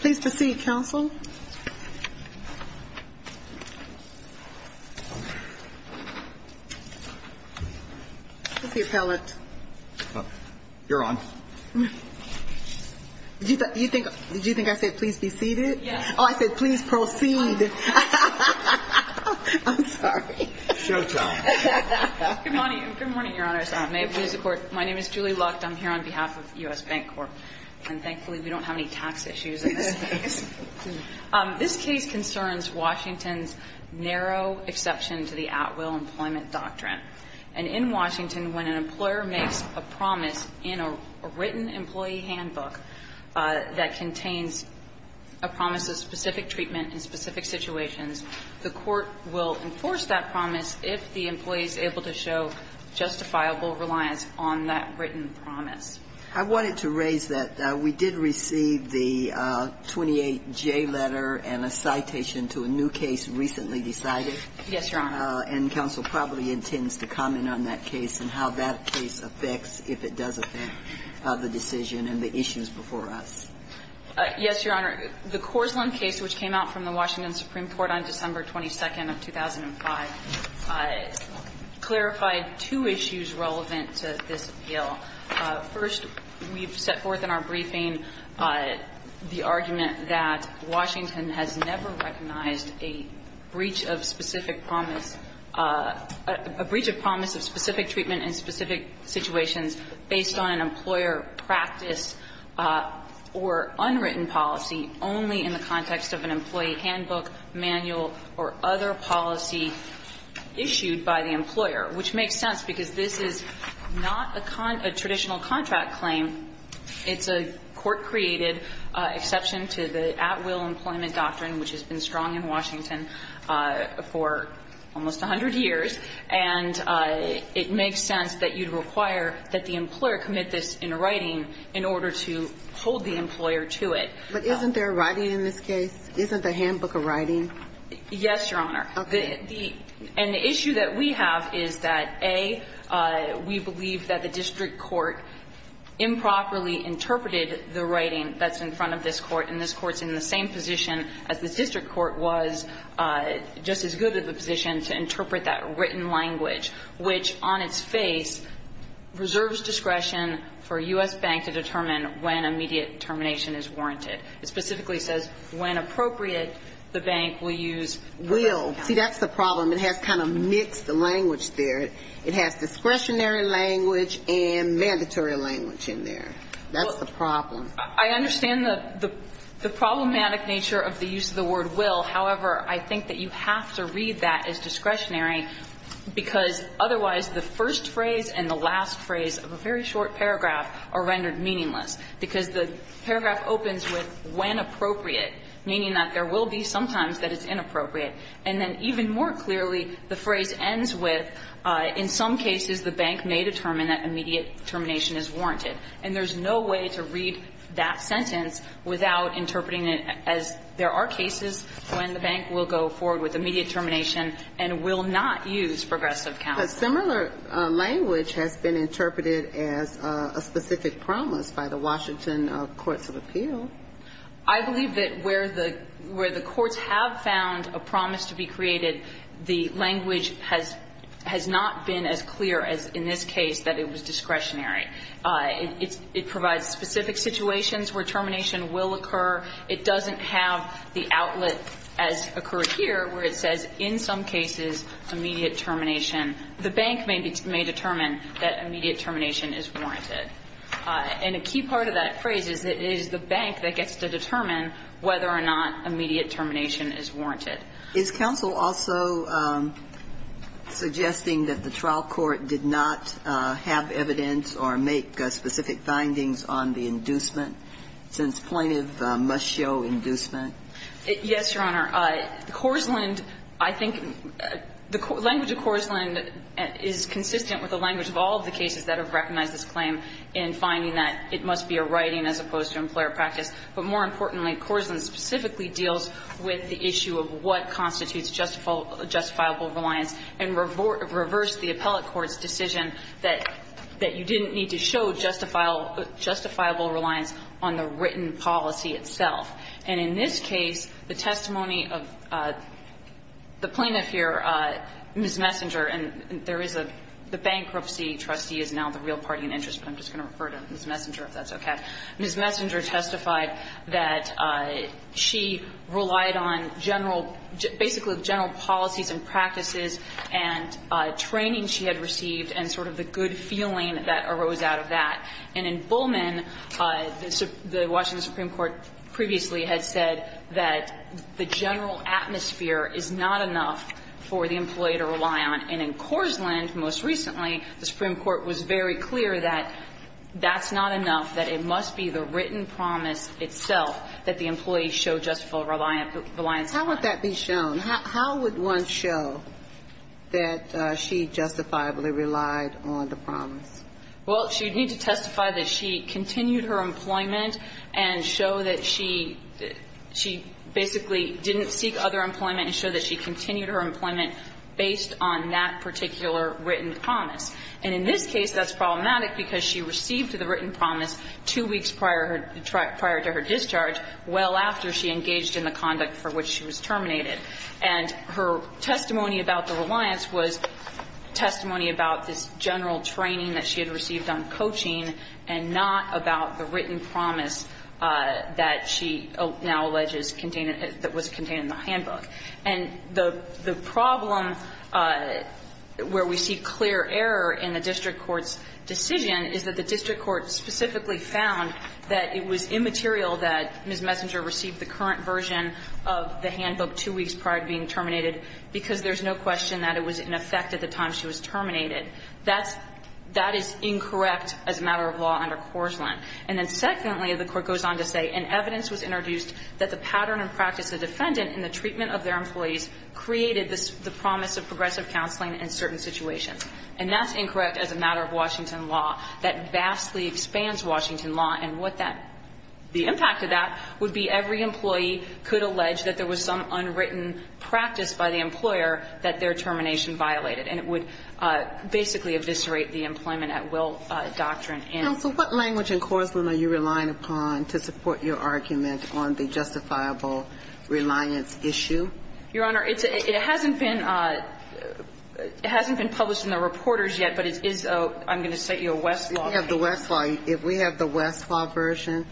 Please proceed, Counsel. This is the appellate. You're on. Did you think I said, please be seated? Yes. Oh, I said, please proceed. I'm sorry. Showtime. Good morning, Your Honors. May it please the Court. My name is Julie Lucht. I'm here on behalf of US Bancorp. And thankfully, we don't have any tax issues in this case. This case concerns Washington's narrow exception to the at-will employment doctrine. And in Washington, when an employer makes a promise in a written employee handbook that contains a promise of specific treatment in specific situations, the Court will enforce that promise if the employee is able to show justifiable reliance on that written promise. I wanted to raise that we did receive the 28J letter and a citation to a new case recently decided. Yes, Your Honor. And counsel probably intends to comment on that case and how that case affects if it does affect the decision and the issues before us. Yes, Your Honor. The Korslund case, which came out from the Washington Supreme Court on December 22nd of 2005, clarified two issues relevant to this appeal. First, we've set forth in our briefing the argument that Washington has never recognized a breach of specific promise, a breach of promise of specific treatment in specific situations based on an employer practice or unwritten policy only in the context of an employee handbook, manual, or other policy issued by the employer, which makes sense because this is not a traditional contract claim. It's a Court-created exception to the at-will employment doctrine, which has been required that the employer commit this in writing in order to hold the employer to it. But isn't there writing in this case? Isn't the handbook a writing? Yes, Your Honor. Okay. And the issue that we have is that, A, we believe that the district court improperly interpreted the writing that's in front of this Court, and this Court's in the same position as the district court was, just as good of a position to interpret that written language, which, on its face, reserves discretion for a U.S. bank to determine when immediate termination is warranted. It specifically says, when appropriate, the bank will use the word will. See, that's the problem. It has kind of mixed language there. It has discretionary language and mandatory language in there. That's the problem. I understand the problematic nature of the use of the word will. However, I think that you have to read that as discretionary, because otherwise the first phrase and the last phrase of a very short paragraph are rendered meaningless, because the paragraph opens with, when appropriate, meaning that there will be sometimes that it's inappropriate, and then even more clearly, the phrase ends with, in some cases, the bank may determine that immediate termination is warranted. And there's no way to read that sentence without interpreting it as there are cases when the bank will go forward with immediate termination and will not use progressive counsel. But similar language has been interpreted as a specific promise by the Washington courts of appeal. I believe that where the courts have found a promise to be created, the language has not been as clear as in this case that it was discretionary. It provides specific situations where termination will occur. It doesn't have the outlet as occurred here, where it says, in some cases, immediate termination. The bank may determine that immediate termination is warranted. And a key part of that phrase is that it is the bank that gets to determine whether or not immediate termination is warranted. Is counsel also suggesting that the trial court did not have evidence or make specific findings on the inducement, since plaintiff must show inducement? Yes, Your Honor. Corzuland, I think the language of Corzuland is consistent with the language of all of the cases that have recognized this claim in finding that it must be a writing as opposed to employer practice. But more importantly, Corzuland specifically deals with the issue of what constitutes justifiable reliance and reversed the appellate court's decision that you didn't need to show justifiable reliance on the written policy itself. And in this case, the testimony of the plaintiff here, Ms. Messenger, and there is a the bankruptcy trustee is now the real party in interest, but I'm just going to refer to Ms. Messenger if that's okay. Ms. Messenger testified that she relied on general, basically general policies and practices and training she had received and sort of the good feeling that arose out of that. And in Bullman, the Washington Supreme Court previously had said that the general atmosphere is not enough for the employee to rely on. And in Corzuland, most recently, the Supreme Court was very clear that that's not enough, that it must be the written promise itself that the employee show justifiable reliance on. How would that be shown? How would one show that she justifiably relied on the promise? Well, she'd need to testify that she continued her employment and show that she – she basically didn't seek other employment and show that she continued her employment based on that particular written promise. And in this case, that's problematic because she received the written promise two weeks prior to her discharge, well after she engaged in the conduct for which she was terminated. And her testimony about the reliance was testimony about this general training that she had received on coaching and not about the written promise that she now alleges contained – that was contained in the handbook. And the problem where we see clear error in the district court's decision is that the district court specifically found that it was immaterial that Ms. Messenger received the current version of the handbook two weeks prior to being terminated because there's no question that it was in effect at the time she was terminated. That's – that is incorrect as a matter of law under Corzuland. And then secondly, the Court goes on to say, And evidence was introduced that the pattern and practice of the defendant in the treatment of their employees created the promise of progressive counseling in certain situations. And that's incorrect as a matter of Washington law. That vastly expands Washington law. And what that – the impact of that would be every employee could allege that there was some unwritten practice by the employer that their termination violated. So what language in Corzuland are you relying upon to support your argument on the justifiable reliance issue? Your Honor, it's – it hasn't been – it hasn't been published in the reporters yet, but it is a – I'm going to cite you a Westlaw. We have the Westlaw. If we have the Westlaw version,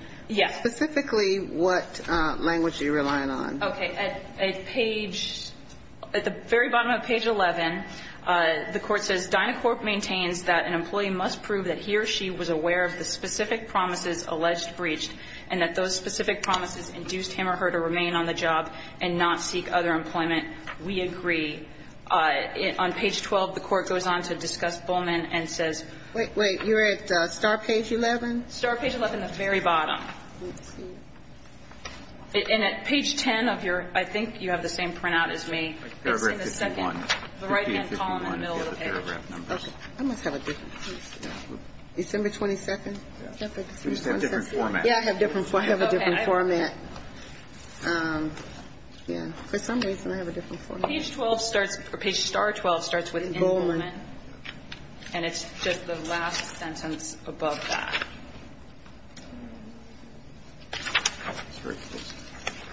specifically what language are you relying on? Okay. At page – at the very bottom of page 11, the Court says, Dynacorp maintains that an employee must prove that he or she was aware of the specific promises alleged breached and that those specific promises induced him or her to remain on the job and not seek other employment. We agree. On page 12, the Court goes on to discuss Buhlmann and says – Wait, wait. You're at star page 11? Star page 11, the very bottom. And at page 10 of your – I think you have the same printout as me. It's in the second – the right-hand column in the middle of the page. I must have a different – December 22nd? December 22nd. Yeah, I have different – I have a different format. Yeah. For some reason, I have a different format. Page 12 starts – page star 12 starts with in Buhlmann. And it's just the last sentence above that.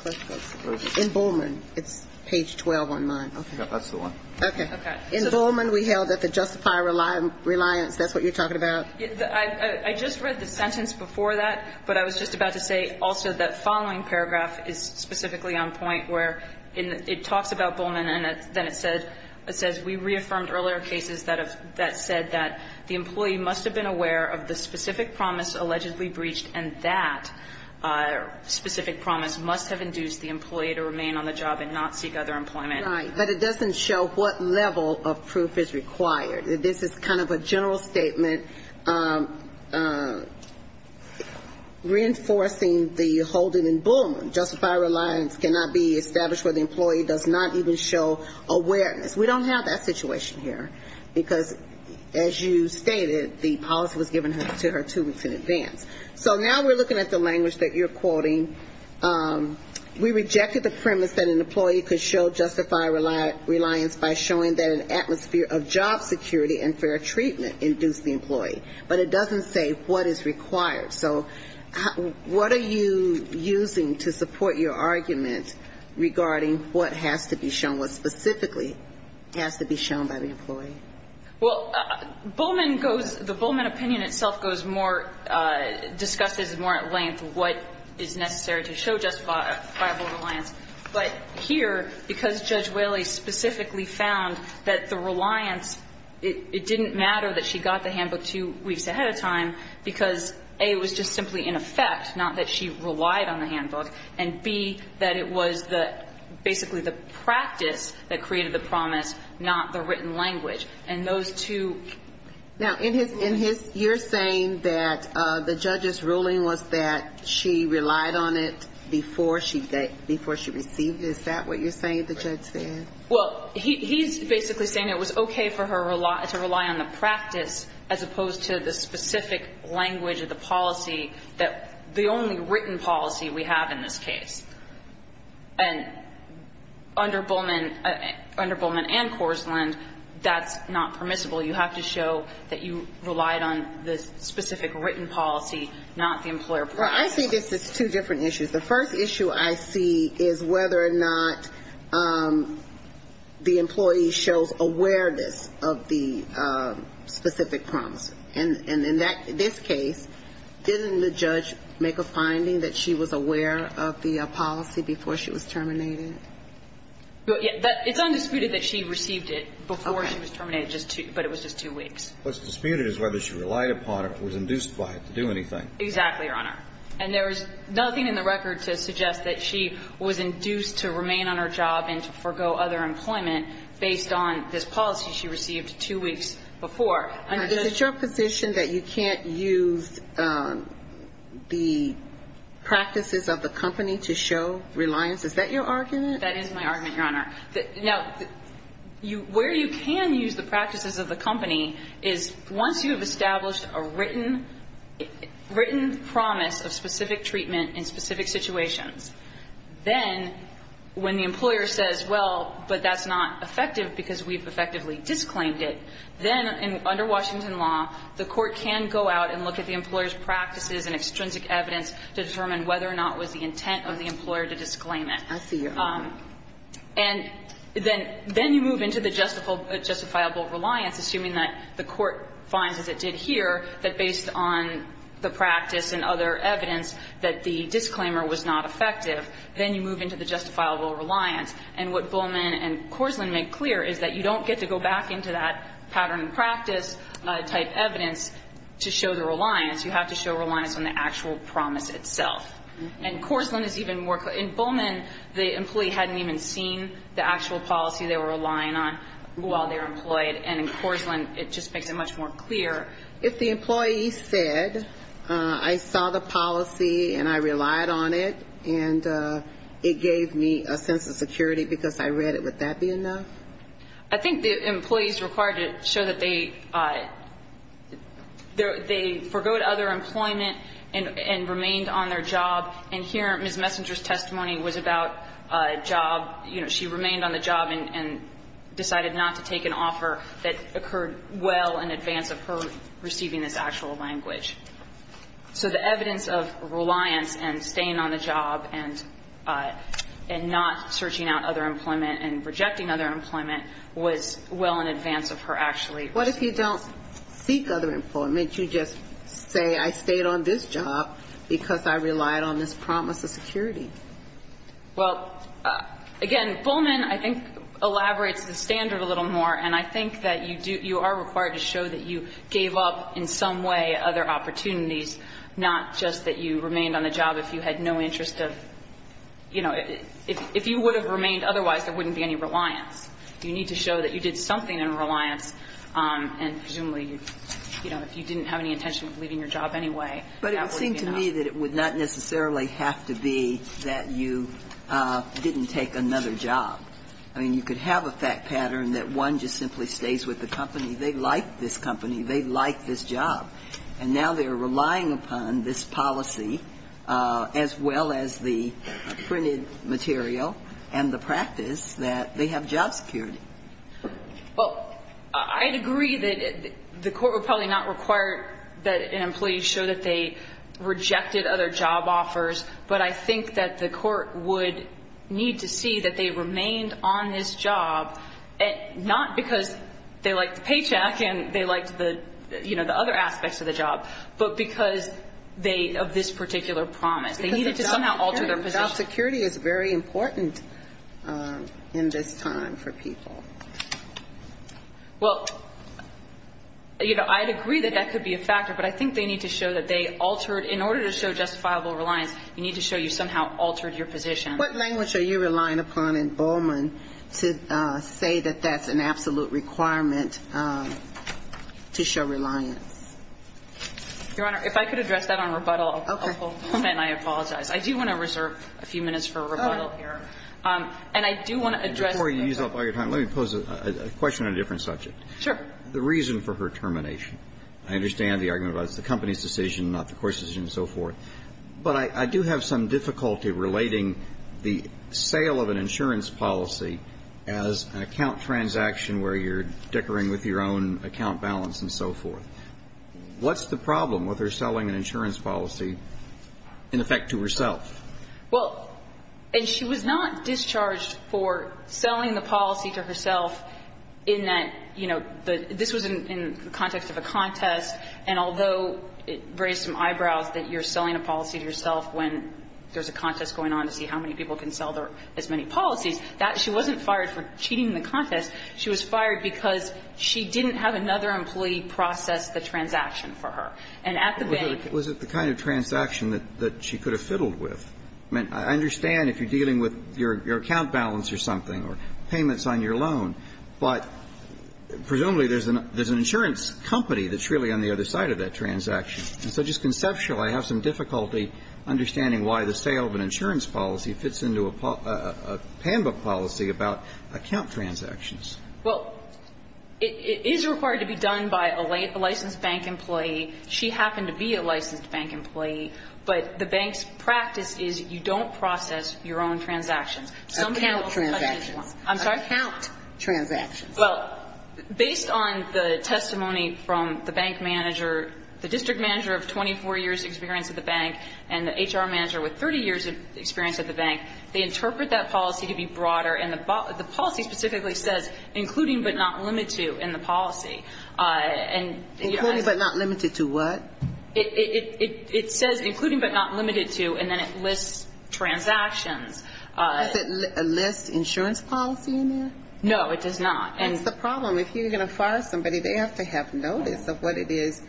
In Buhlmann, it's page 12 on mine. Okay. That's the one. Okay. In Buhlmann, we held that the justifier reliance – that's what you're talking about? I just read the sentence before that, but I was just about to say also that following paragraph is specifically on point where it talks about Buhlmann, and then it says – it says, We reaffirmed earlier cases that have – that said that the employee must have been And that specific promise must have induced the employee to remain on the job and not seek other employment. Right. But it doesn't show what level of proof is required. This is kind of a general statement reinforcing the holding in Buhlmann. Justifier reliance cannot be established where the employee does not even show awareness. We don't have that situation here. Because as you stated, the policy was given to her two weeks in advance. So now we're looking at the language that you're quoting. We rejected the premise that an employee could show justifier reliance by showing that an atmosphere of job security and fair treatment induced the employee. But it doesn't say what is required. So what are you using to support your argument regarding what has to be shown, what specifically has to be shown by the employee? Well, Buhlmann goes – the Buhlmann opinion itself goes more – discusses more at length what is necessary to show justifiable reliance. But here, because Judge Whaley specifically found that the reliance – it didn't matter that she got the handbook two weeks ahead of time because, A, it was just simply in effect, not that she relied on the handbook. And, B, that it was the – basically the practice that created the promise, not the written language. And those two – Now, in his – you're saying that the judge's ruling was that she relied on it before she received it. Is that what you're saying, the judge said? Well, he's basically saying it was okay for her to rely on the practice as opposed to the specific language of the policy that – the only written policy we have in this case. And under Buhlmann – under Buhlmann and Korslund, that's not permissible. You have to show that you relied on the specific written policy, not the employer-provided policy. Well, I see this as two different issues. The first issue I see is whether or not the employee shows awareness of the specific promise. And in that – this case, didn't the judge make a finding that she was aware of the policy before she was terminated? It's undisputed that she received it before she was terminated, but it was just two weeks. What's disputed is whether she relied upon it or was induced by it to do anything. Exactly, Your Honor. And there is nothing in the record to suggest that she was induced to remain on her job and to forego other employment based on this policy she received two weeks before. Is it your position that you can't use the practices of the company to show reliance? Is that your argument? That is my argument, Your Honor. Now, where you can use the practices of the company is once you have established a written – written promise of specific treatment in specific situations, then when the employer says, well, but that's not effective because we've effectively disclaimed it, then under Washington law, the court can go out and look at the employer's practices and extrinsic evidence to determine whether or not it was the intent of the employer to disclaim it. I see your point. And then – then you move into the justifiable reliance, assuming that the court finds, as it did here, that based on the practice and other evidence that the disclaimer was not effective, then you move into the justifiable reliance. And what Buhlmann and Korslund make clear is that you don't get to go back into that pattern and practice type evidence to show the reliance. You have to show reliance on the actual promise itself. And Korslund is even more – in Buhlmann, the employee hadn't even seen the actual policy they were relying on while they were employed. And in Korslund, it just makes it much more clear. If the employee said, I saw the policy and I relied on it and it gave me a sense of security because I read it, would that be enough? I think the employees required to show that they – they forgoed other employment and remained on their job. And here, Ms. Messenger's testimony was about a job – you know, she remained on the job and decided not to take an offer that occurred well in advance of her receiving this actual language. So the evidence of reliance and staying on the job and not searching out other employment and rejecting other employment was well in advance of her actually – What if you don't seek other employment? You just say, I stayed on this job because I relied on this promise of security. Well, again, Buhlmann, I think, elaborates the standard a little more, and I think that you do – you are required to show that you gave up in some way other opportunities, not just that you remained on the job if you had no interest of – you know, if you would have remained otherwise, there wouldn't be any reliance. You need to show that you did something in reliance, and presumably, you know, if you didn't have any intention of leaving your job anyway, that would be enough. But it would seem to me that it would not necessarily have to be that you didn't take another job. I mean, you could have a fact pattern that one just simply stays with the company. They like this company. They like this job. And now they're relying upon this policy as well as the printed material and the practice that they have job security. Well, I'd agree that the Court would probably not require that an employee show that they rejected other job offers, but I think that the Court would need to see that they remained on this job, not because they liked the paycheck and they liked the, you know, the other aspects of the job, but because they – of this particular promise. They needed to somehow alter their position. Because job security is very important in this time for people. Well, you know, I'd agree that that could be a factor, but I think they need to show that they altered – in order to show justifiable reliance, you need to show you somehow altered your position. What language are you relying upon in Bowman to say that that's an absolute requirement to show reliance? Your Honor, if I could address that on rebuttal, I'll pull – and I apologize. I do want to reserve a few minutes for rebuttal here. And I do want to address the – Before you use up all your time, let me pose a question on a different subject. Sure. The reason for her termination. I understand the argument about it's the company's decision, not the Court's decision and so forth. But I do have some difficulty relating the sale of an insurance policy as an account transaction where you're dickering with your own account balance and so forth. What's the problem with her selling an insurance policy, in effect, to herself? Well, and she was not discharged for selling the policy to herself in that, you know, this was in the context of a contest. And although it raised some eyebrows that you're selling a policy to yourself when there's a contest going on to see how many people can sell as many policies, that – she wasn't fired for cheating the contest. She was fired because she didn't have another employee process the transaction for her. And at the bank – Was it the kind of transaction that she could have fiddled with? I mean, I understand if you're dealing with your account balance or something or payments on your loan. But presumably there's an insurance company that's really on the other side of that transaction. And so just conceptually, I have some difficulty understanding why the sale of an insurance policy fits into a PAMBA policy about account transactions. Well, it is required to be done by a licensed bank employee. She happened to be a licensed bank employee, but the bank's practice is you don't process your own transactions. Some people process each one. I'm sorry? Your account transactions. Well, based on the testimony from the bank manager, the district manager of 24 years' experience at the bank and the HR manager with 30 years' experience at the bank, they interpret that policy to be broader. And the policy specifically says, including but not limited to in the policy. And – Including but not limited to what? It says including but not limited to, and then it lists transactions. Is it a list insurance policy in there? No, it does not. And – That's the problem. If you're going to fire somebody, they have to have notice of what it is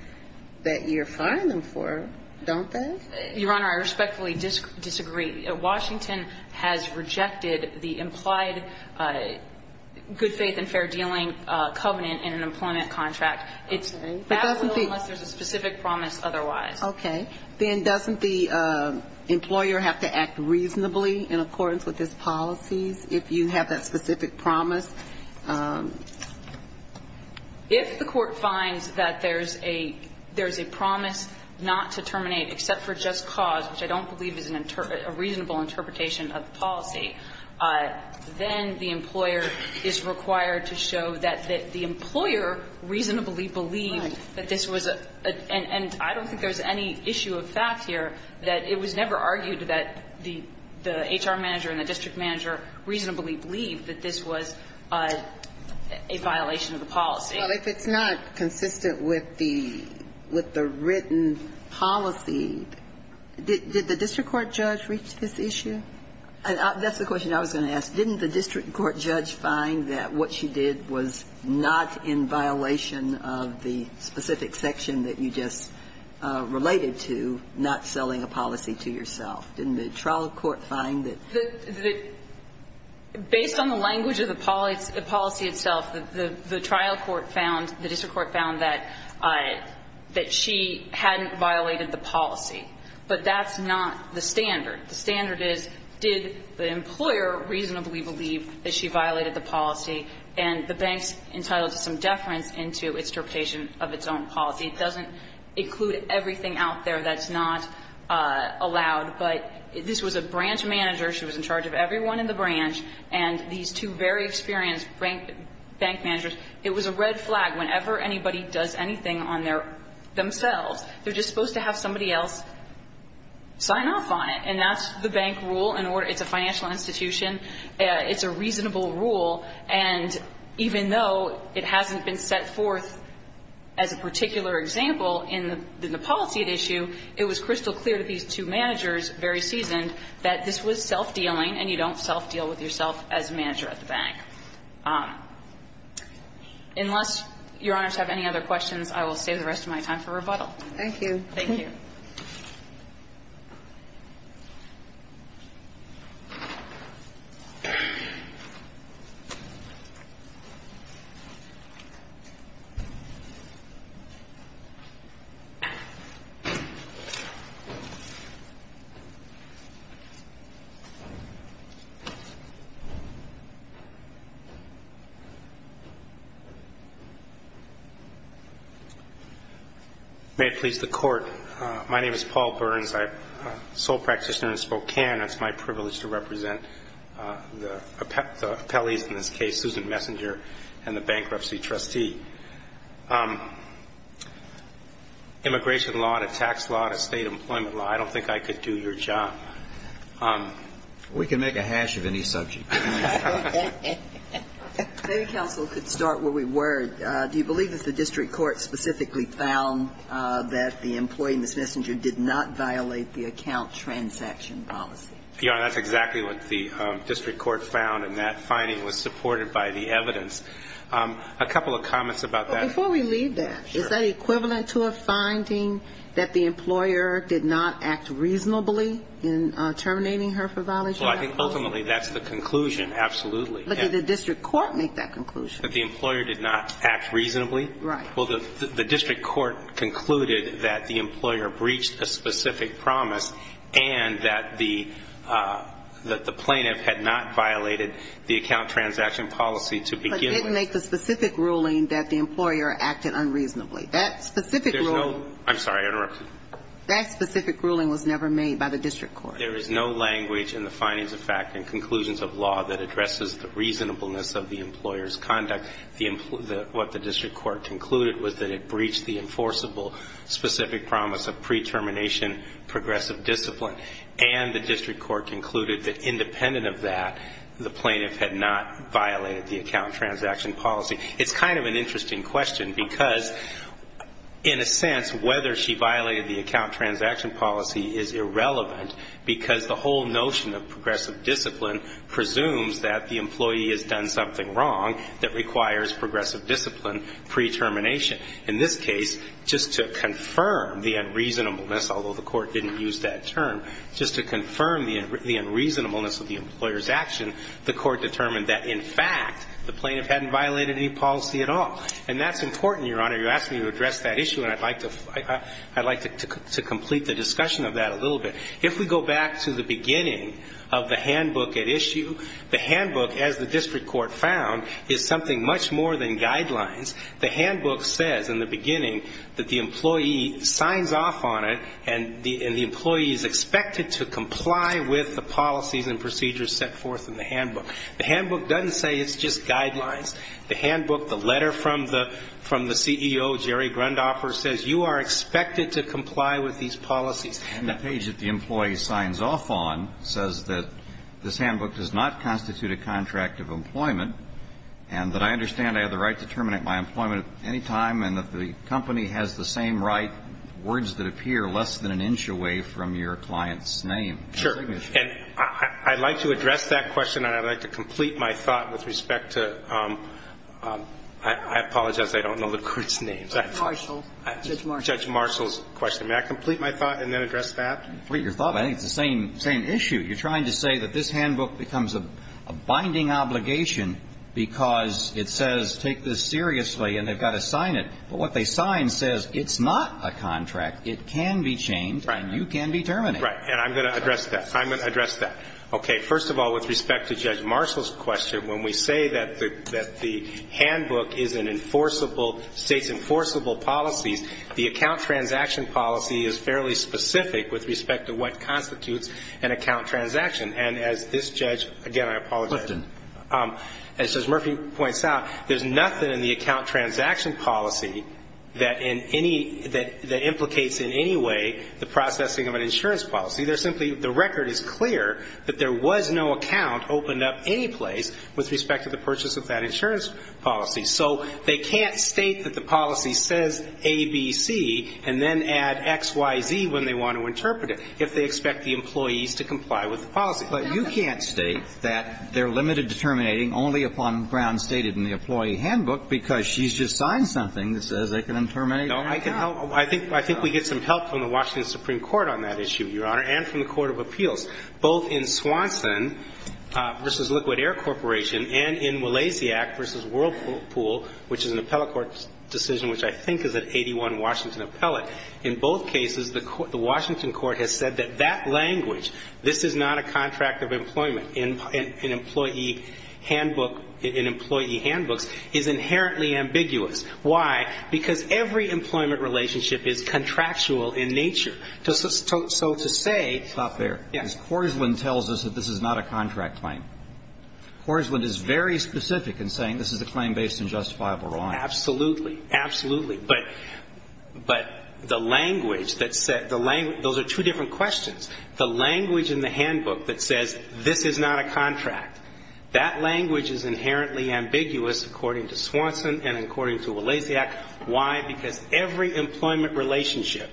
that you're firing them for, don't they? Your Honor, I respectfully disagree. Washington has rejected the implied good faith and fair dealing covenant in an employment contract. It's – Okay. It doesn't be – That's unless there's a specific promise otherwise. Okay. Then doesn't the employer have to act reasonably in accordance with this policy if you have that specific promise? If the court finds that there's a promise not to terminate except for just cause, which I don't believe is a reasonable interpretation of the policy, then the employer is required to show that the employer reasonably believed that this was a – and I don't think there's any issue of fact here that it was never argued that the HR manager and the district manager reasonably believed that this was a violation of the policy. Well, if it's not consistent with the – with the written policy, did the district court judge reach this issue? That's the question I was going to ask. Didn't the district court judge find that what she did was not in violation of the specific section that you just related to, not selling a policy to yourself? Didn't the trial court find that? The – based on the language of the policy itself, the trial court found, the district court found that she hadn't violated the policy, but that's not the standard. The standard is, did the employer reasonably believe that she violated the policy? And the bank's entitled to some deference into its interpretation of its own policy. It doesn't include everything out there that's not allowed, but this was a branch manager. She was in charge of everyone in the branch. And these two very experienced bank managers – it was a red flag. Whenever anybody does anything on their – themselves, they're just supposed to have somebody else sign off on it. And that's the bank rule in order – it's a financial institution. It's a reasonable rule. And even though it hasn't been set forth as a particular example in the policy at issue, it was crystal clear to these two managers, very seasoned, that this was self-dealing and you don't self-deal with yourself as a manager at the bank. Unless Your Honors have any other questions, I will save the rest of my time for rebuttal. Thank you. Thank you. May it please the Court. My name is Paul Burns. I'm a sole practitioner in Spokane. It's my privilege to represent the appellees in this case, Susan Messinger and the bankruptcy trustee. Immigration law to tax law to state employment law, I don't think I could do your job. We can make a hash of any subject. Maybe counsel could start where we were. Do you believe that the district court specifically found that the employee, Ms. Messinger, did not violate the account transaction policy? Your Honor, that's exactly what the district court found, and that finding was supported by the evidence. A couple of comments about that. Before we leave that, is that equivalent to a finding that the employer did not act reasonably in terminating her for violation? Well, I think ultimately that's the conclusion, absolutely. But did the district court make that conclusion? That the employer did not act reasonably? Right. Well, the district court concluded that the employer breached a specific promise and that the plaintiff had not violated the account transaction policy to begin with. But didn't make the specific ruling that the employer acted unreasonably. That specific ruling. I'm sorry. I interrupted you. That specific ruling was never made by the district court. There is no language in the findings of fact and conclusions of law that addresses the reasonableness of the employer's conduct. What the district court concluded was that it breached the enforceable specific promise of pre-termination progressive discipline, and the district court concluded that independent of that, the plaintiff had not violated the account transaction policy. It's kind of an interesting question because in a sense, whether she violated the account transaction policy is irrelevant because the whole notion of progressive discipline presumes that the employee has done something wrong that requires progressive discipline pre-termination. In this case, just to confirm the unreasonableness, although the court didn't use that term, just to confirm the unreasonableness of the employer's action, the court determined that in fact the plaintiff hadn't violated any policy at all. And that's important, Your Honor. You're asking me to address that issue, and I'd like to complete the discussion of that a little bit. If we go back to the beginning of the handbook at issue, the handbook, as the district court found, is something much more than guidelines. The handbook says in the beginning that the employee signs off on it, and the employee is expected to comply with the policies and procedures set forth in the handbook. The handbook doesn't say it's just guidelines. The handbook, the letter from the CEO, Jerry Grundhofer, says you are expected to comply with these policies. And the page that the employee signs off on says that this handbook does not constitute a contract of employment, and that I understand I have the right to terminate my employment at any time, and that the company has the same right, words that appear less than an inch away from your client's name. Sure. And I'd like to address that question, and I'd like to complete my thought with respect to the – I apologize, I don't know the court's names. Marshall. Judge Marshall's question. May I complete my thought and then address that? Complete your thought, but I think it's the same issue. You're trying to say that this handbook becomes a binding obligation because it says take this seriously and they've got to sign it. But what they sign says it's not a contract. It can be chained and you can be terminated. Right. And I'm going to address that. I'm going to address that. Okay. First of all, with respect to Judge Marshall's question, when we say that the handbook is an enforceable – states enforceable policies, the account transaction policy is fairly specific with respect to what constitutes an account transaction. And as this judge – again, I apologize. As Judge Murphy points out, there's nothing in the account transaction policy that in any – that implicates in any way the processing of an insurance policy. There's simply – the record is clear that there was no account opened up any place with respect to the purchase of that insurance policy. So they can't state that the policy says A, B, C, and then add X, Y, Z when they want to interpret it if they expect the employees to comply with the policy. But you can't state that they're limited to terminating only upon grounds stated in the employee handbook because she's just signed something that says they can terminate – No, I can help – I think we get some help from the Washington Supreme Court on that issue, Your Honor, and from the Court of Appeals, both in Swanson v. Liquid Air Corporation and in Walasiak v. Whirlpool, which is an appellate court decision which I think is an 81 Washington appellate. In both cases, the Washington court has said that that language, this is not a contract of employment in employee handbook – in employee handbooks, is inherently ambiguous. Why? Because every employment relationship is contractual in nature. So to say – Stop there. Yes. Because Korslund tells us that this is not a contract claim. Korslund is very specific in saying this is a claim based on justifiable wrong. Absolutely. Absolutely. But the language that said – those are two different questions. The language in the handbook that says this is not a contract, that language is inherently ambiguous according to Swanson and according to Walasiak. Why? Because every employment relationship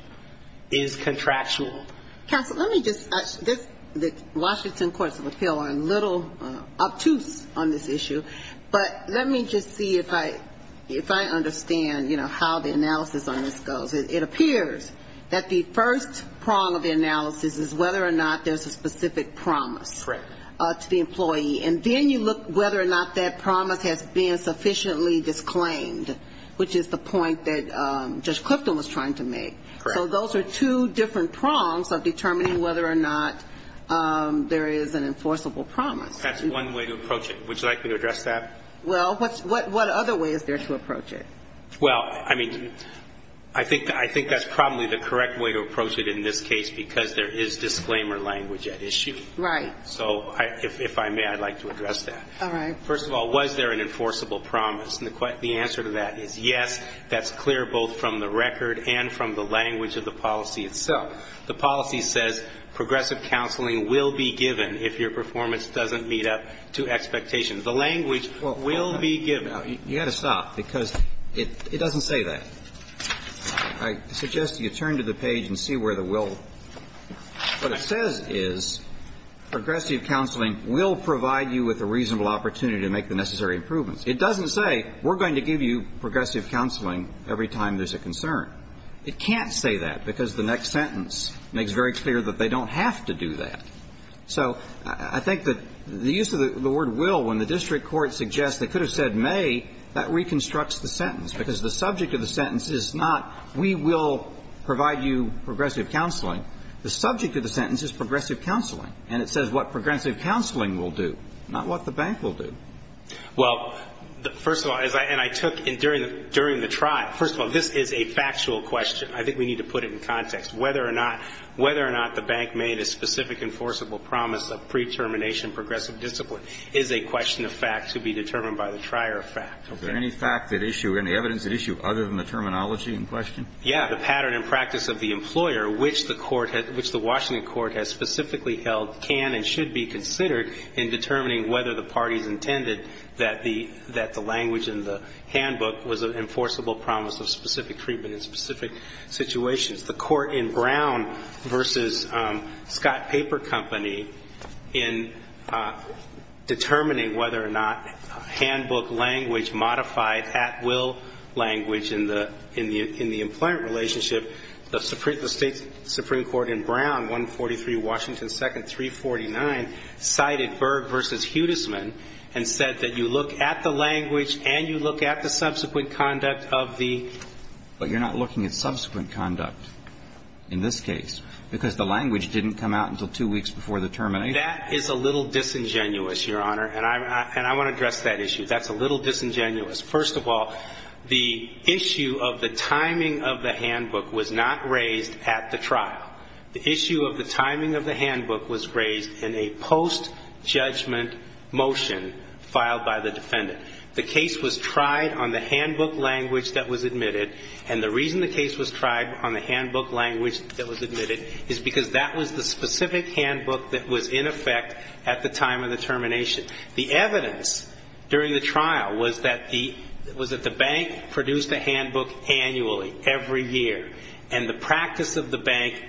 is contractual. Counsel, let me just – the Washington courts of appeal are a little obtuse on this issue, but let me just see if I understand, you know, how the analysis on this goes. It appears that the first prong of the analysis is whether or not there's a specific promise to the employee, and then you look whether or not that promise has been sufficiently disclaimed, which is the point that Judge Clifton was trying to make. Correct. So those are two different prongs of determining whether or not there is an enforceable promise. That's one way to approach it. Would you like me to address that? Well, what other way is there to approach it? Well, I mean, I think that's probably the correct way to approach it in this case because there is disclaimer language at issue. Right. So if I may, I'd like to address that. All right. First of all, was there an enforceable promise? And the answer to that is yes. That's clear both from the record and from the language of the policy itself. The policy says progressive counseling will be given if your performance doesn't meet up to expectations. The language will be given. You've got to stop because it doesn't say that. I suggest you turn to the page and see where the will – what it says is progressive counseling will provide you with a reasonable opportunity to make the necessary improvements. It doesn't say we're going to give you progressive counseling every time there's a concern. It can't say that because the next sentence makes very clear that they don't have to do that. So I think that the use of the word will when the district court suggests they could have said may, that reconstructs the sentence because the subject of the sentence is not we will provide you progressive counseling. The subject of the sentence is progressive counseling. And it says what progressive counseling will do, not what the bank will do. Well, first of all, and I took during the trial, first of all, this is a factual question. I think we need to put it in context. Whether or not the bank made a specific enforceable promise of pre-termination progressive discipline is a question of fact to be determined by the trier of fact. Is there any fact at issue, any evidence at issue other than the terminology in question? Yeah. The pattern and practice of the employer which the Washington court has specifically held can and should be considered in determining whether the parties intended that the language in the handbook was an enforceable promise of specific treatment in specific situations. The court in Brown versus Scott Paper Company in determining whether or not handbook language modified at will language in the employment relationship, the state supreme court in Brown, 143 Washington 2nd, 349, cited Berg versus Hudisman and said that you look at the language and you look at the subsequent conduct of the. But you're not looking at subsequent conduct in this case because the language didn't come out until two weeks before the termination. That is a little disingenuous, your honor, and I want to address that issue. That's a little disingenuous. First of all, the issue of the timing of the handbook was not raised at the trial. The issue of the timing of the handbook was raised in a post-judgment motion filed by the defendant. The case was tried on the handbook language that was admitted, and the reason the case was tried on the handbook language that was admitted is because that was the specific handbook that was in effect at the time of the termination. The evidence during the trial was that the bank produced a handbook annually, every year, and the practice of the bank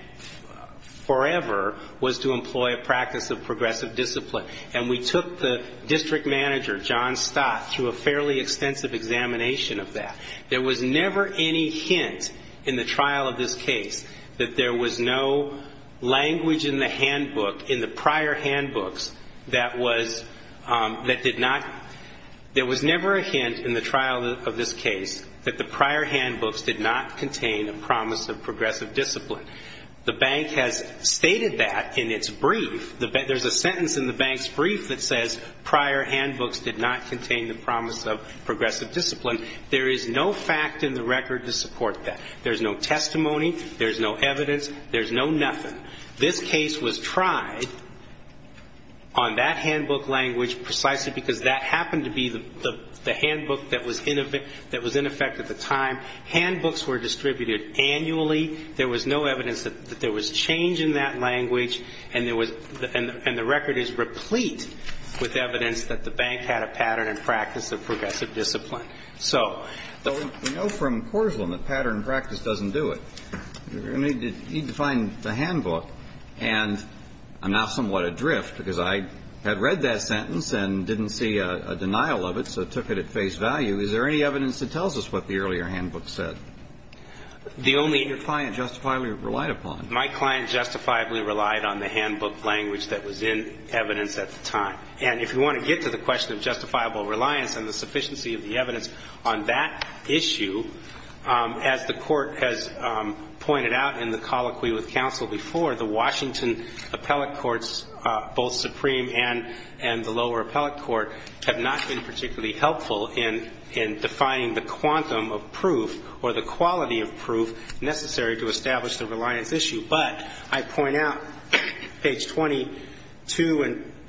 forever was to employ a practice of progressive discipline. And we took the district manager, John Stott, through a fairly extensive examination of that. There was never any hint in the trial of this case that there was no language in the handbook, in the prior handbooks, that was, that did not, there was never a hint in the trial of this case that the prior handbooks did not contain a promise of progressive discipline. The bank has stated that in its brief. There's a sentence in the bank's brief that says, prior handbooks did not contain the promise of progressive discipline. There is no fact in the record to support that. There's no testimony, there's no evidence, there's no nothing. This case was tried on that handbook language precisely because that happened to be the language that was in effect at the time. Handbooks were distributed annually. There was no evidence that there was change in that language. And there was, and the record is replete with evidence that the bank had a pattern and practice of progressive discipline. So. We know from Corslan that pattern and practice doesn't do it. You need to find the handbook. And I'm now somewhat adrift because I had read that sentence and didn't see a denial of it, so I took it at face value. Is there any evidence that tells us what the earlier handbook said? Your client justifiably relied upon it. My client justifiably relied on the handbook language that was in evidence at the time. And if you want to get to the question of justifiable reliance and the sufficiency of the evidence on that issue, as the Court has pointed out in the colloquy with counsel before, the Washington appellate courts, both Supreme and the lower appellate court, have not been particularly helpful in defining the quantum of proof or the quality of proof necessary to establish the reliance issue. But I point out page 22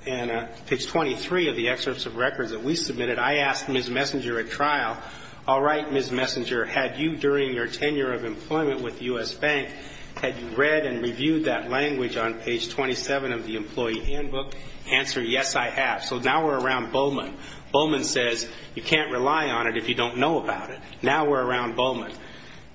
and page 23 of the excerpts of records that we submitted, I asked Ms. Messenger at trial, all right, Ms. Messenger, had you during your tenure of employment with the U.S. Bank, had you read and reviewed that language on page 27 of the employee handbook? Answer, yes, I have. So now we're around Bowman. Bowman says you can't rely on it if you don't know about it. Now we're around Bowman.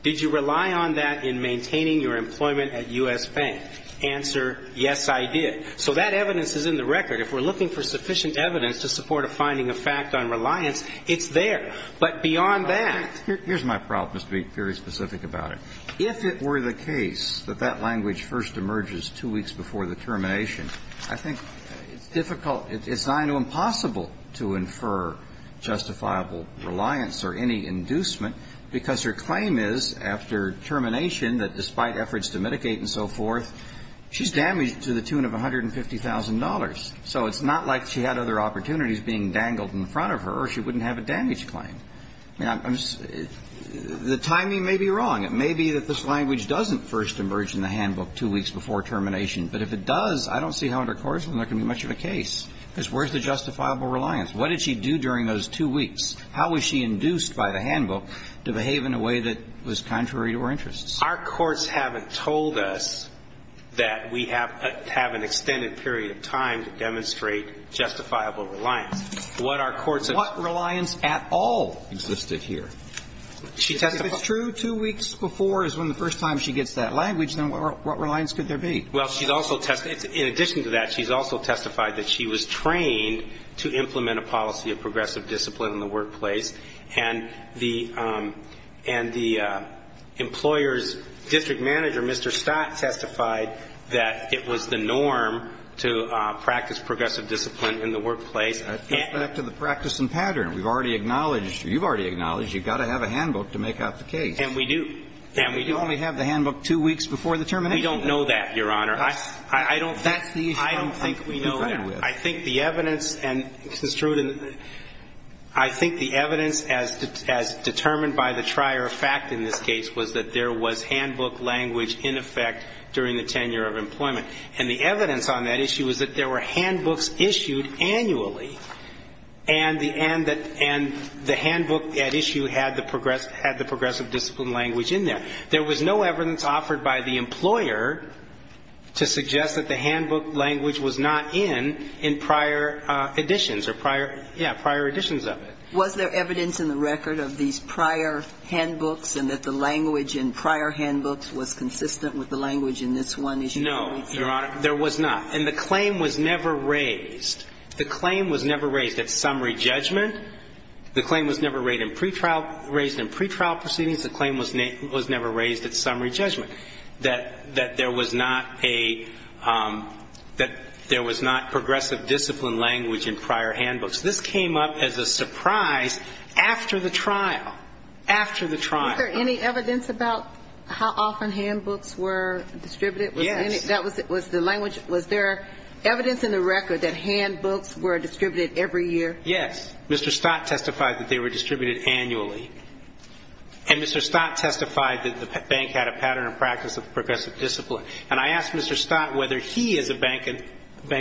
Did you rely on that in maintaining your employment at U.S. Bank? Answer, yes, I did. So that evidence is in the record. If we're looking for sufficient evidence to support a finding of fact on reliance, it's there. But beyond that ---- Here's my problem, to be very specific about it. If it were the case that that language first emerges two weeks before the termination, I think it's difficult, it's not even possible to infer justifiable reliance or any inducement because her claim is, after termination, that despite efforts to mitigate and so forth, she's damaged to the tune of $150,000. So it's not like she had other opportunities being dangled in front of her or she wouldn't have a damage claim. The timing may be wrong. It may be that this language doesn't first emerge in the handbook two weeks before termination. But if it does, I don't see how under Corzine there can be much of a case. Because where's the justifiable reliance? What did she do during those two weeks? How was she induced by the handbook to behave in a way that was contrary to her interests? Our courts haven't told us that we have an extended period of time to demonstrate justifiable reliance. What our courts have ---- What reliance at all existed here? If it's true two weeks before is when the first time she gets that language, then what reliance could there be? Well, she's also testified. In addition to that, she's also testified that she was trained to implement a policy of progressive discipline in the workplace. And the employer's district manager, Mr. Stott, testified that it was the norm to practice progressive discipline in the workplace. That's back to the practice and pattern. We've already acknowledged or you've already acknowledged you've got to have a handbook to make out the case. And we do. And we do. But you only have the handbook two weeks before the termination. We don't know that, Your Honor. I don't think we know that. That's the issue I'm confronted with. I think the evidence and, Mr. Struden, I think the evidence as determined by the trier of fact in this case was that there was handbook language in effect during the tenure of employment. And the evidence on that issue was that there were handbooks issued annually. And the handbook at issue had the progressive discipline language in there. There was no evidence offered by the employer to suggest that the handbook language was not in in prior editions or prior, yeah, prior editions of it. Was there evidence in the record of these prior handbooks and that the language in prior handbooks was consistent with the language in this one issue? No, Your Honor. There was not. And the claim was never raised. The claim was never raised at summary judgment. The claim was never raised in pretrial proceedings. The claim was never raised at summary judgment, that there was not a, that there was not progressive discipline language in prior handbooks. This came up as a surprise after the trial, after the trial. Was there any evidence about how often handbooks were distributed? Yes. Was there evidence in the record that handbooks were distributed every year? Yes. Mr. Stott testified that they were distributed annually. And Mr. Stott testified that the bank had a pattern of practice of progressive discipline. And I asked Mr. Stott whether he, as a bank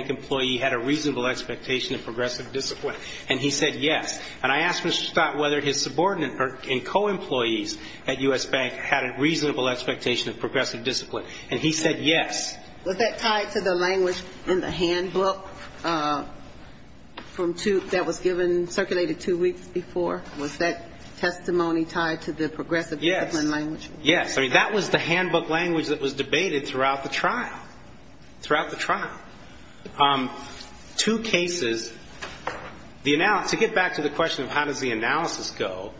employee, had a reasonable expectation of progressive discipline, and he said yes. And I asked Mr. Stott whether his subordinates and co-employees at U.S. Bank had a reasonable expectation of progressive discipline, and he said yes. Was that tied to the language in the handbook from two, that was given, circulated two weeks before? Was that testimony tied to the progressive discipline language? Yes. Yes. I mean, that was the handbook language that was debated throughout the trial, throughout the trial. Two cases, the analysis, to get back to the question of how does the analysis go,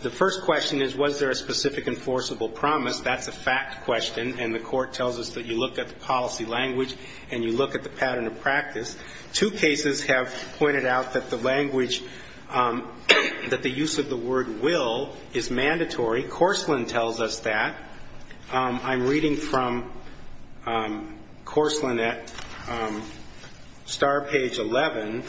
the first question is, was there a specific enforceable promise? That's a fact question, and the Court tells us that you look at the policy language and you look at the pattern of practice. Two cases have pointed out that the language, that the use of the word will is mandatory. Corslan tells us that. I'm reading from Corslan at star page 11.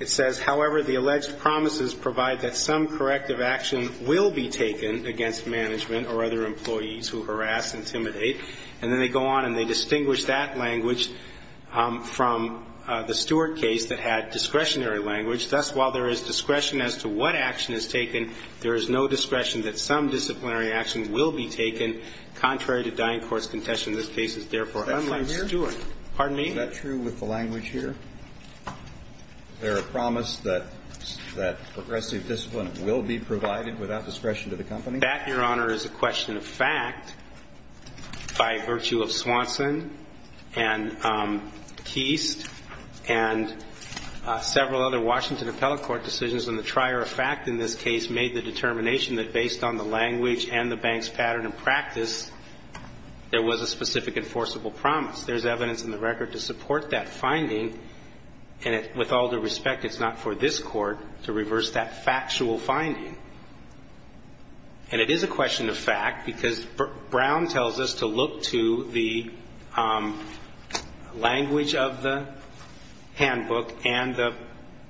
It says, however, the alleged promises provide that some corrective action will be taken against management or other employees who harass, intimidate. And then they go on and they distinguish that language from the Stewart case that had discretionary language. Thus, while there is discretion as to what action is taken, there is no discretion that some disciplinary action will be taken contrary to dying court's contention. This case is therefore unlike Stewart. Is that true here? Pardon me? Is that true with the language here? Is there a promise that progressive discipline will be provided without discretion to the company? That, Your Honor, is a question of fact. By virtue of Swanson and Keist and several other Washington appellate court decisions and the trier of fact in this case made the determination that based on the language and the bank's pattern of practice, there was a specific enforceable promise. There's evidence in the record to support that finding, and with all due respect, it's not for this court to reverse that factual finding. And it is a question of fact because Brown tells us to look to the language of the handbook and the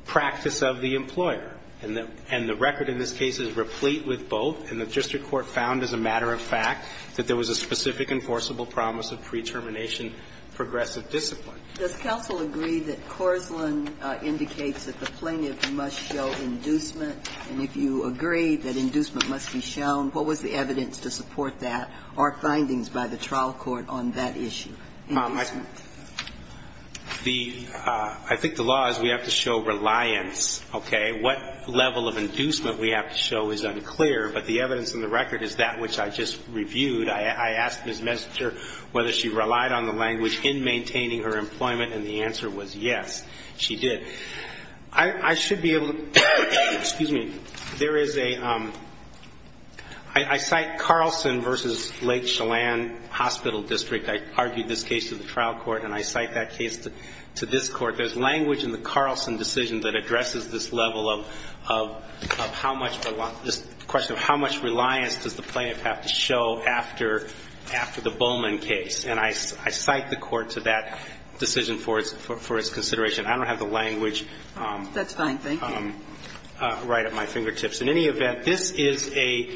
practice of the employer. And the record in this case is replete with both. And the district court found as a matter of fact that there was a specific enforceable promise of pre-termination progressive discipline. Does counsel agree that Corslan indicates that the plaintiff must show inducement and if you agree that inducement must be shown, what was the evidence to support that or findings by the trial court on that issue? Mom, I think the law is we have to show reliance, okay? What level of inducement we have to show is unclear, but the evidence in the record is that which I just reviewed. I asked Ms. Messinger whether she relied on the language in maintaining her employment, and the answer was yes, she did. I should be able to, excuse me, there is a, I cite Carlson versus Lake Chelan Hospital District. I argued this case to the trial court, and I cite that case to this court. There's language in the Carlson decision that addresses this level of how much, this question of how much reliance does the plaintiff have to show after the Bowman case. And I cite the court to that decision for its consideration. I don't have the language right at my fingertips. In any event, this is a,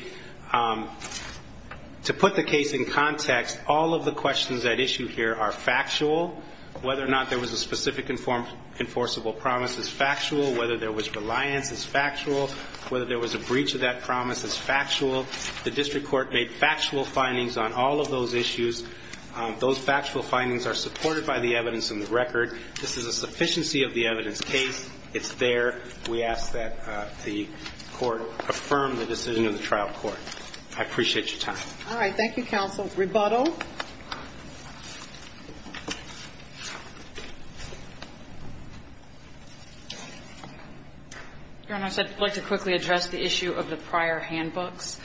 to put the case in context, all of the questions at issue here are factual. Whether or not there was a specific enforceable promise is factual. Whether there was reliance is factual. Whether there was a breach of that promise is factual. The district court made factual findings on all of those issues. Those factual findings are supported by the evidence in the record. This is a sufficiency of the evidence case. It's there. We ask that the court affirm the decision of the trial court. I appreciate your time. All right. Thank you, counsel. Rebuttal. Your Honor, I'd like to quickly address the issue of the prior handbooks.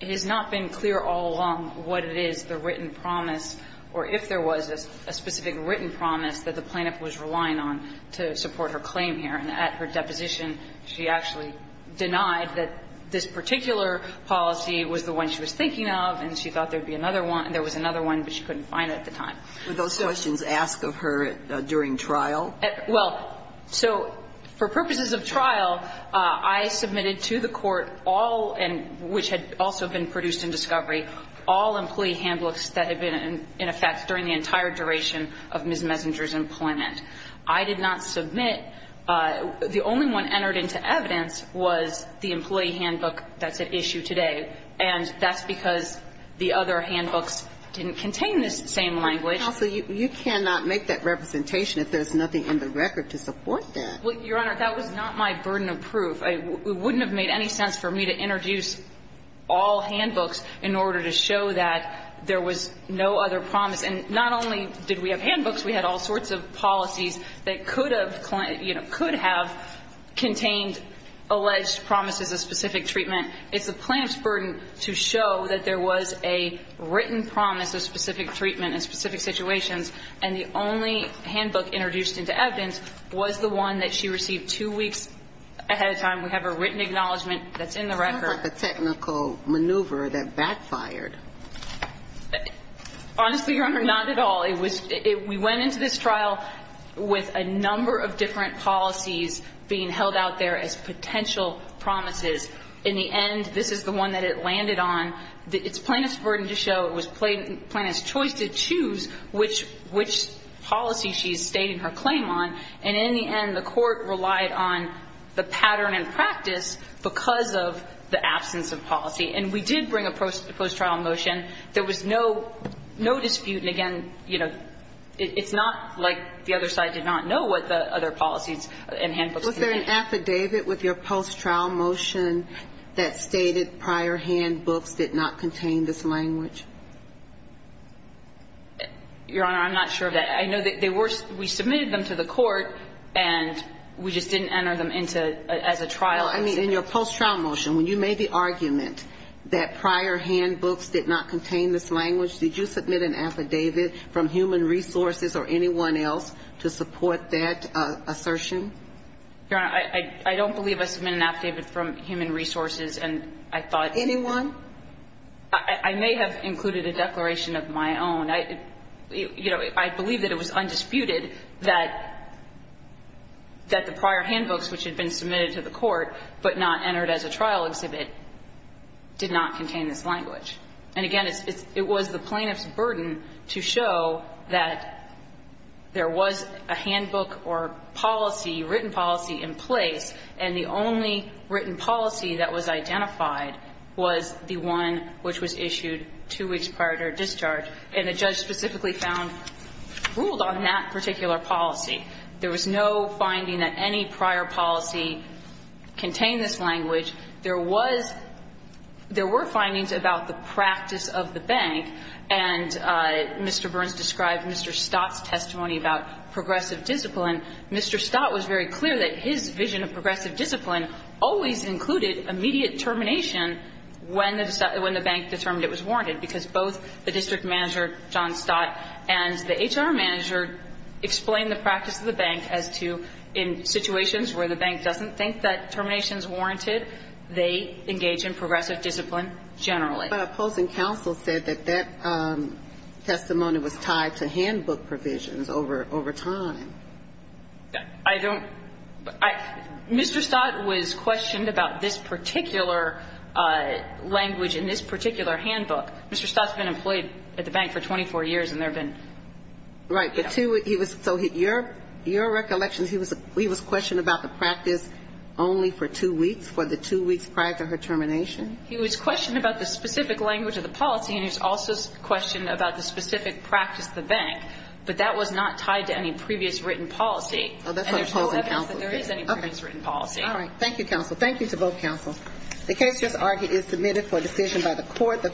It has not been clear all along what it is, the written promise, or if there was a specific written promise that the plaintiff was relying on to support her claim here, and at her deposition she actually denied that this particular policy was the one she was thinking of, and she thought there would be another one, and there was another one, but she couldn't find it at the time. Were those questions asked of her during trial? Well, so for purposes of trial, I submitted to the court all, and which had also been produced in discovery, all employee handbooks that had been in effect during the entire duration of Ms. Messenger's employment. I did not submit the only one entered into evidence was the employee handbook that's at issue today, and that's because the other handbooks didn't contain this same language. Counsel, you cannot make that representation if there's nothing in the record to support that. Well, Your Honor, that was not my burden of proof. It wouldn't have made any sense for me to introduce all handbooks in order to show that there was no other promise, and not only did we have handbooks, we had all sorts of policies that could have, you know, could have contained alleged promises of specific treatment. It's the plaintiff's burden to show that there was a written promise of specific treatment in specific situations, and the only handbook introduced into evidence was the one that she received two weeks ahead of time. We have a written acknowledgment that's in the record. That's not the technical maneuver that backfired. Honestly, Your Honor, not at all. It was we went into this trial with a number of different policies being held out there as potential promises. In the end, this is the one that it landed on. It's plaintiff's burden to show, it was plaintiff's choice to choose which policy she's stating her claim on, and in the end the court relied on the pattern and practice because of the absence of policy. And we did bring a post-trial motion. There was no dispute. And, again, you know, it's not like the other side did not know what the other policies and handbooks contained. Was there an affidavit with your post-trial motion that stated prior handbooks did not contain this language? Your Honor, I'm not sure of that. I know that they were we submitted them to the court, and we just didn't enter them into as a trial. I mean, in your post-trial motion, when you made the argument that prior handbooks did not contain this language, did you submit an affidavit from Human Resources or anyone else to support that assertion? Your Honor, I don't believe I submitted an affidavit from Human Resources, and I thought anyone. I may have included a declaration of my own. I mean, you know, I believe that it was undisputed that the prior handbooks, which had been submitted to the court but not entered as a trial exhibit, did not contain this language. And, again, it was the plaintiff's burden to show that there was a handbook or policy, written policy in place, and the only written policy that was identified was the one which was issued two weeks prior to her discharge. And the judge specifically found ruled on that particular policy. There was no finding that any prior policy contained this language. There was – there were findings about the practice of the bank, and Mr. Burns described Mr. Stott's testimony about progressive discipline. Mr. Stott was very clear that his vision of progressive discipline always included immediate termination when the bank determined it was warranted, because both the district manager, John Stott, and the HR manager explained the practice of the bank as to, in situations where the bank doesn't think that termination is warranted, they engage in progressive discipline generally. But opposing counsel said that that testimony was tied to handbook provisions over time. I don't – I – Mr. Stott was questioned about this particular language in this particular handbook. Mr. Stott's been employed at the bank for 24 years, and there have been – Right. But to – he was – so your – your recollection, he was – he was questioned about the practice only for two weeks, for the two weeks prior to her termination? He was questioned about the specific language of the policy, and he was also questioned about the specific practice of the bank, but that was not tied to any previous written policy. Oh, that's why you're opposing counsel. And there is no evidence that there is any previous written policy. All right. Thank you, counsel. Thank you to both counsel. The case just argued is submitted for decision by the court.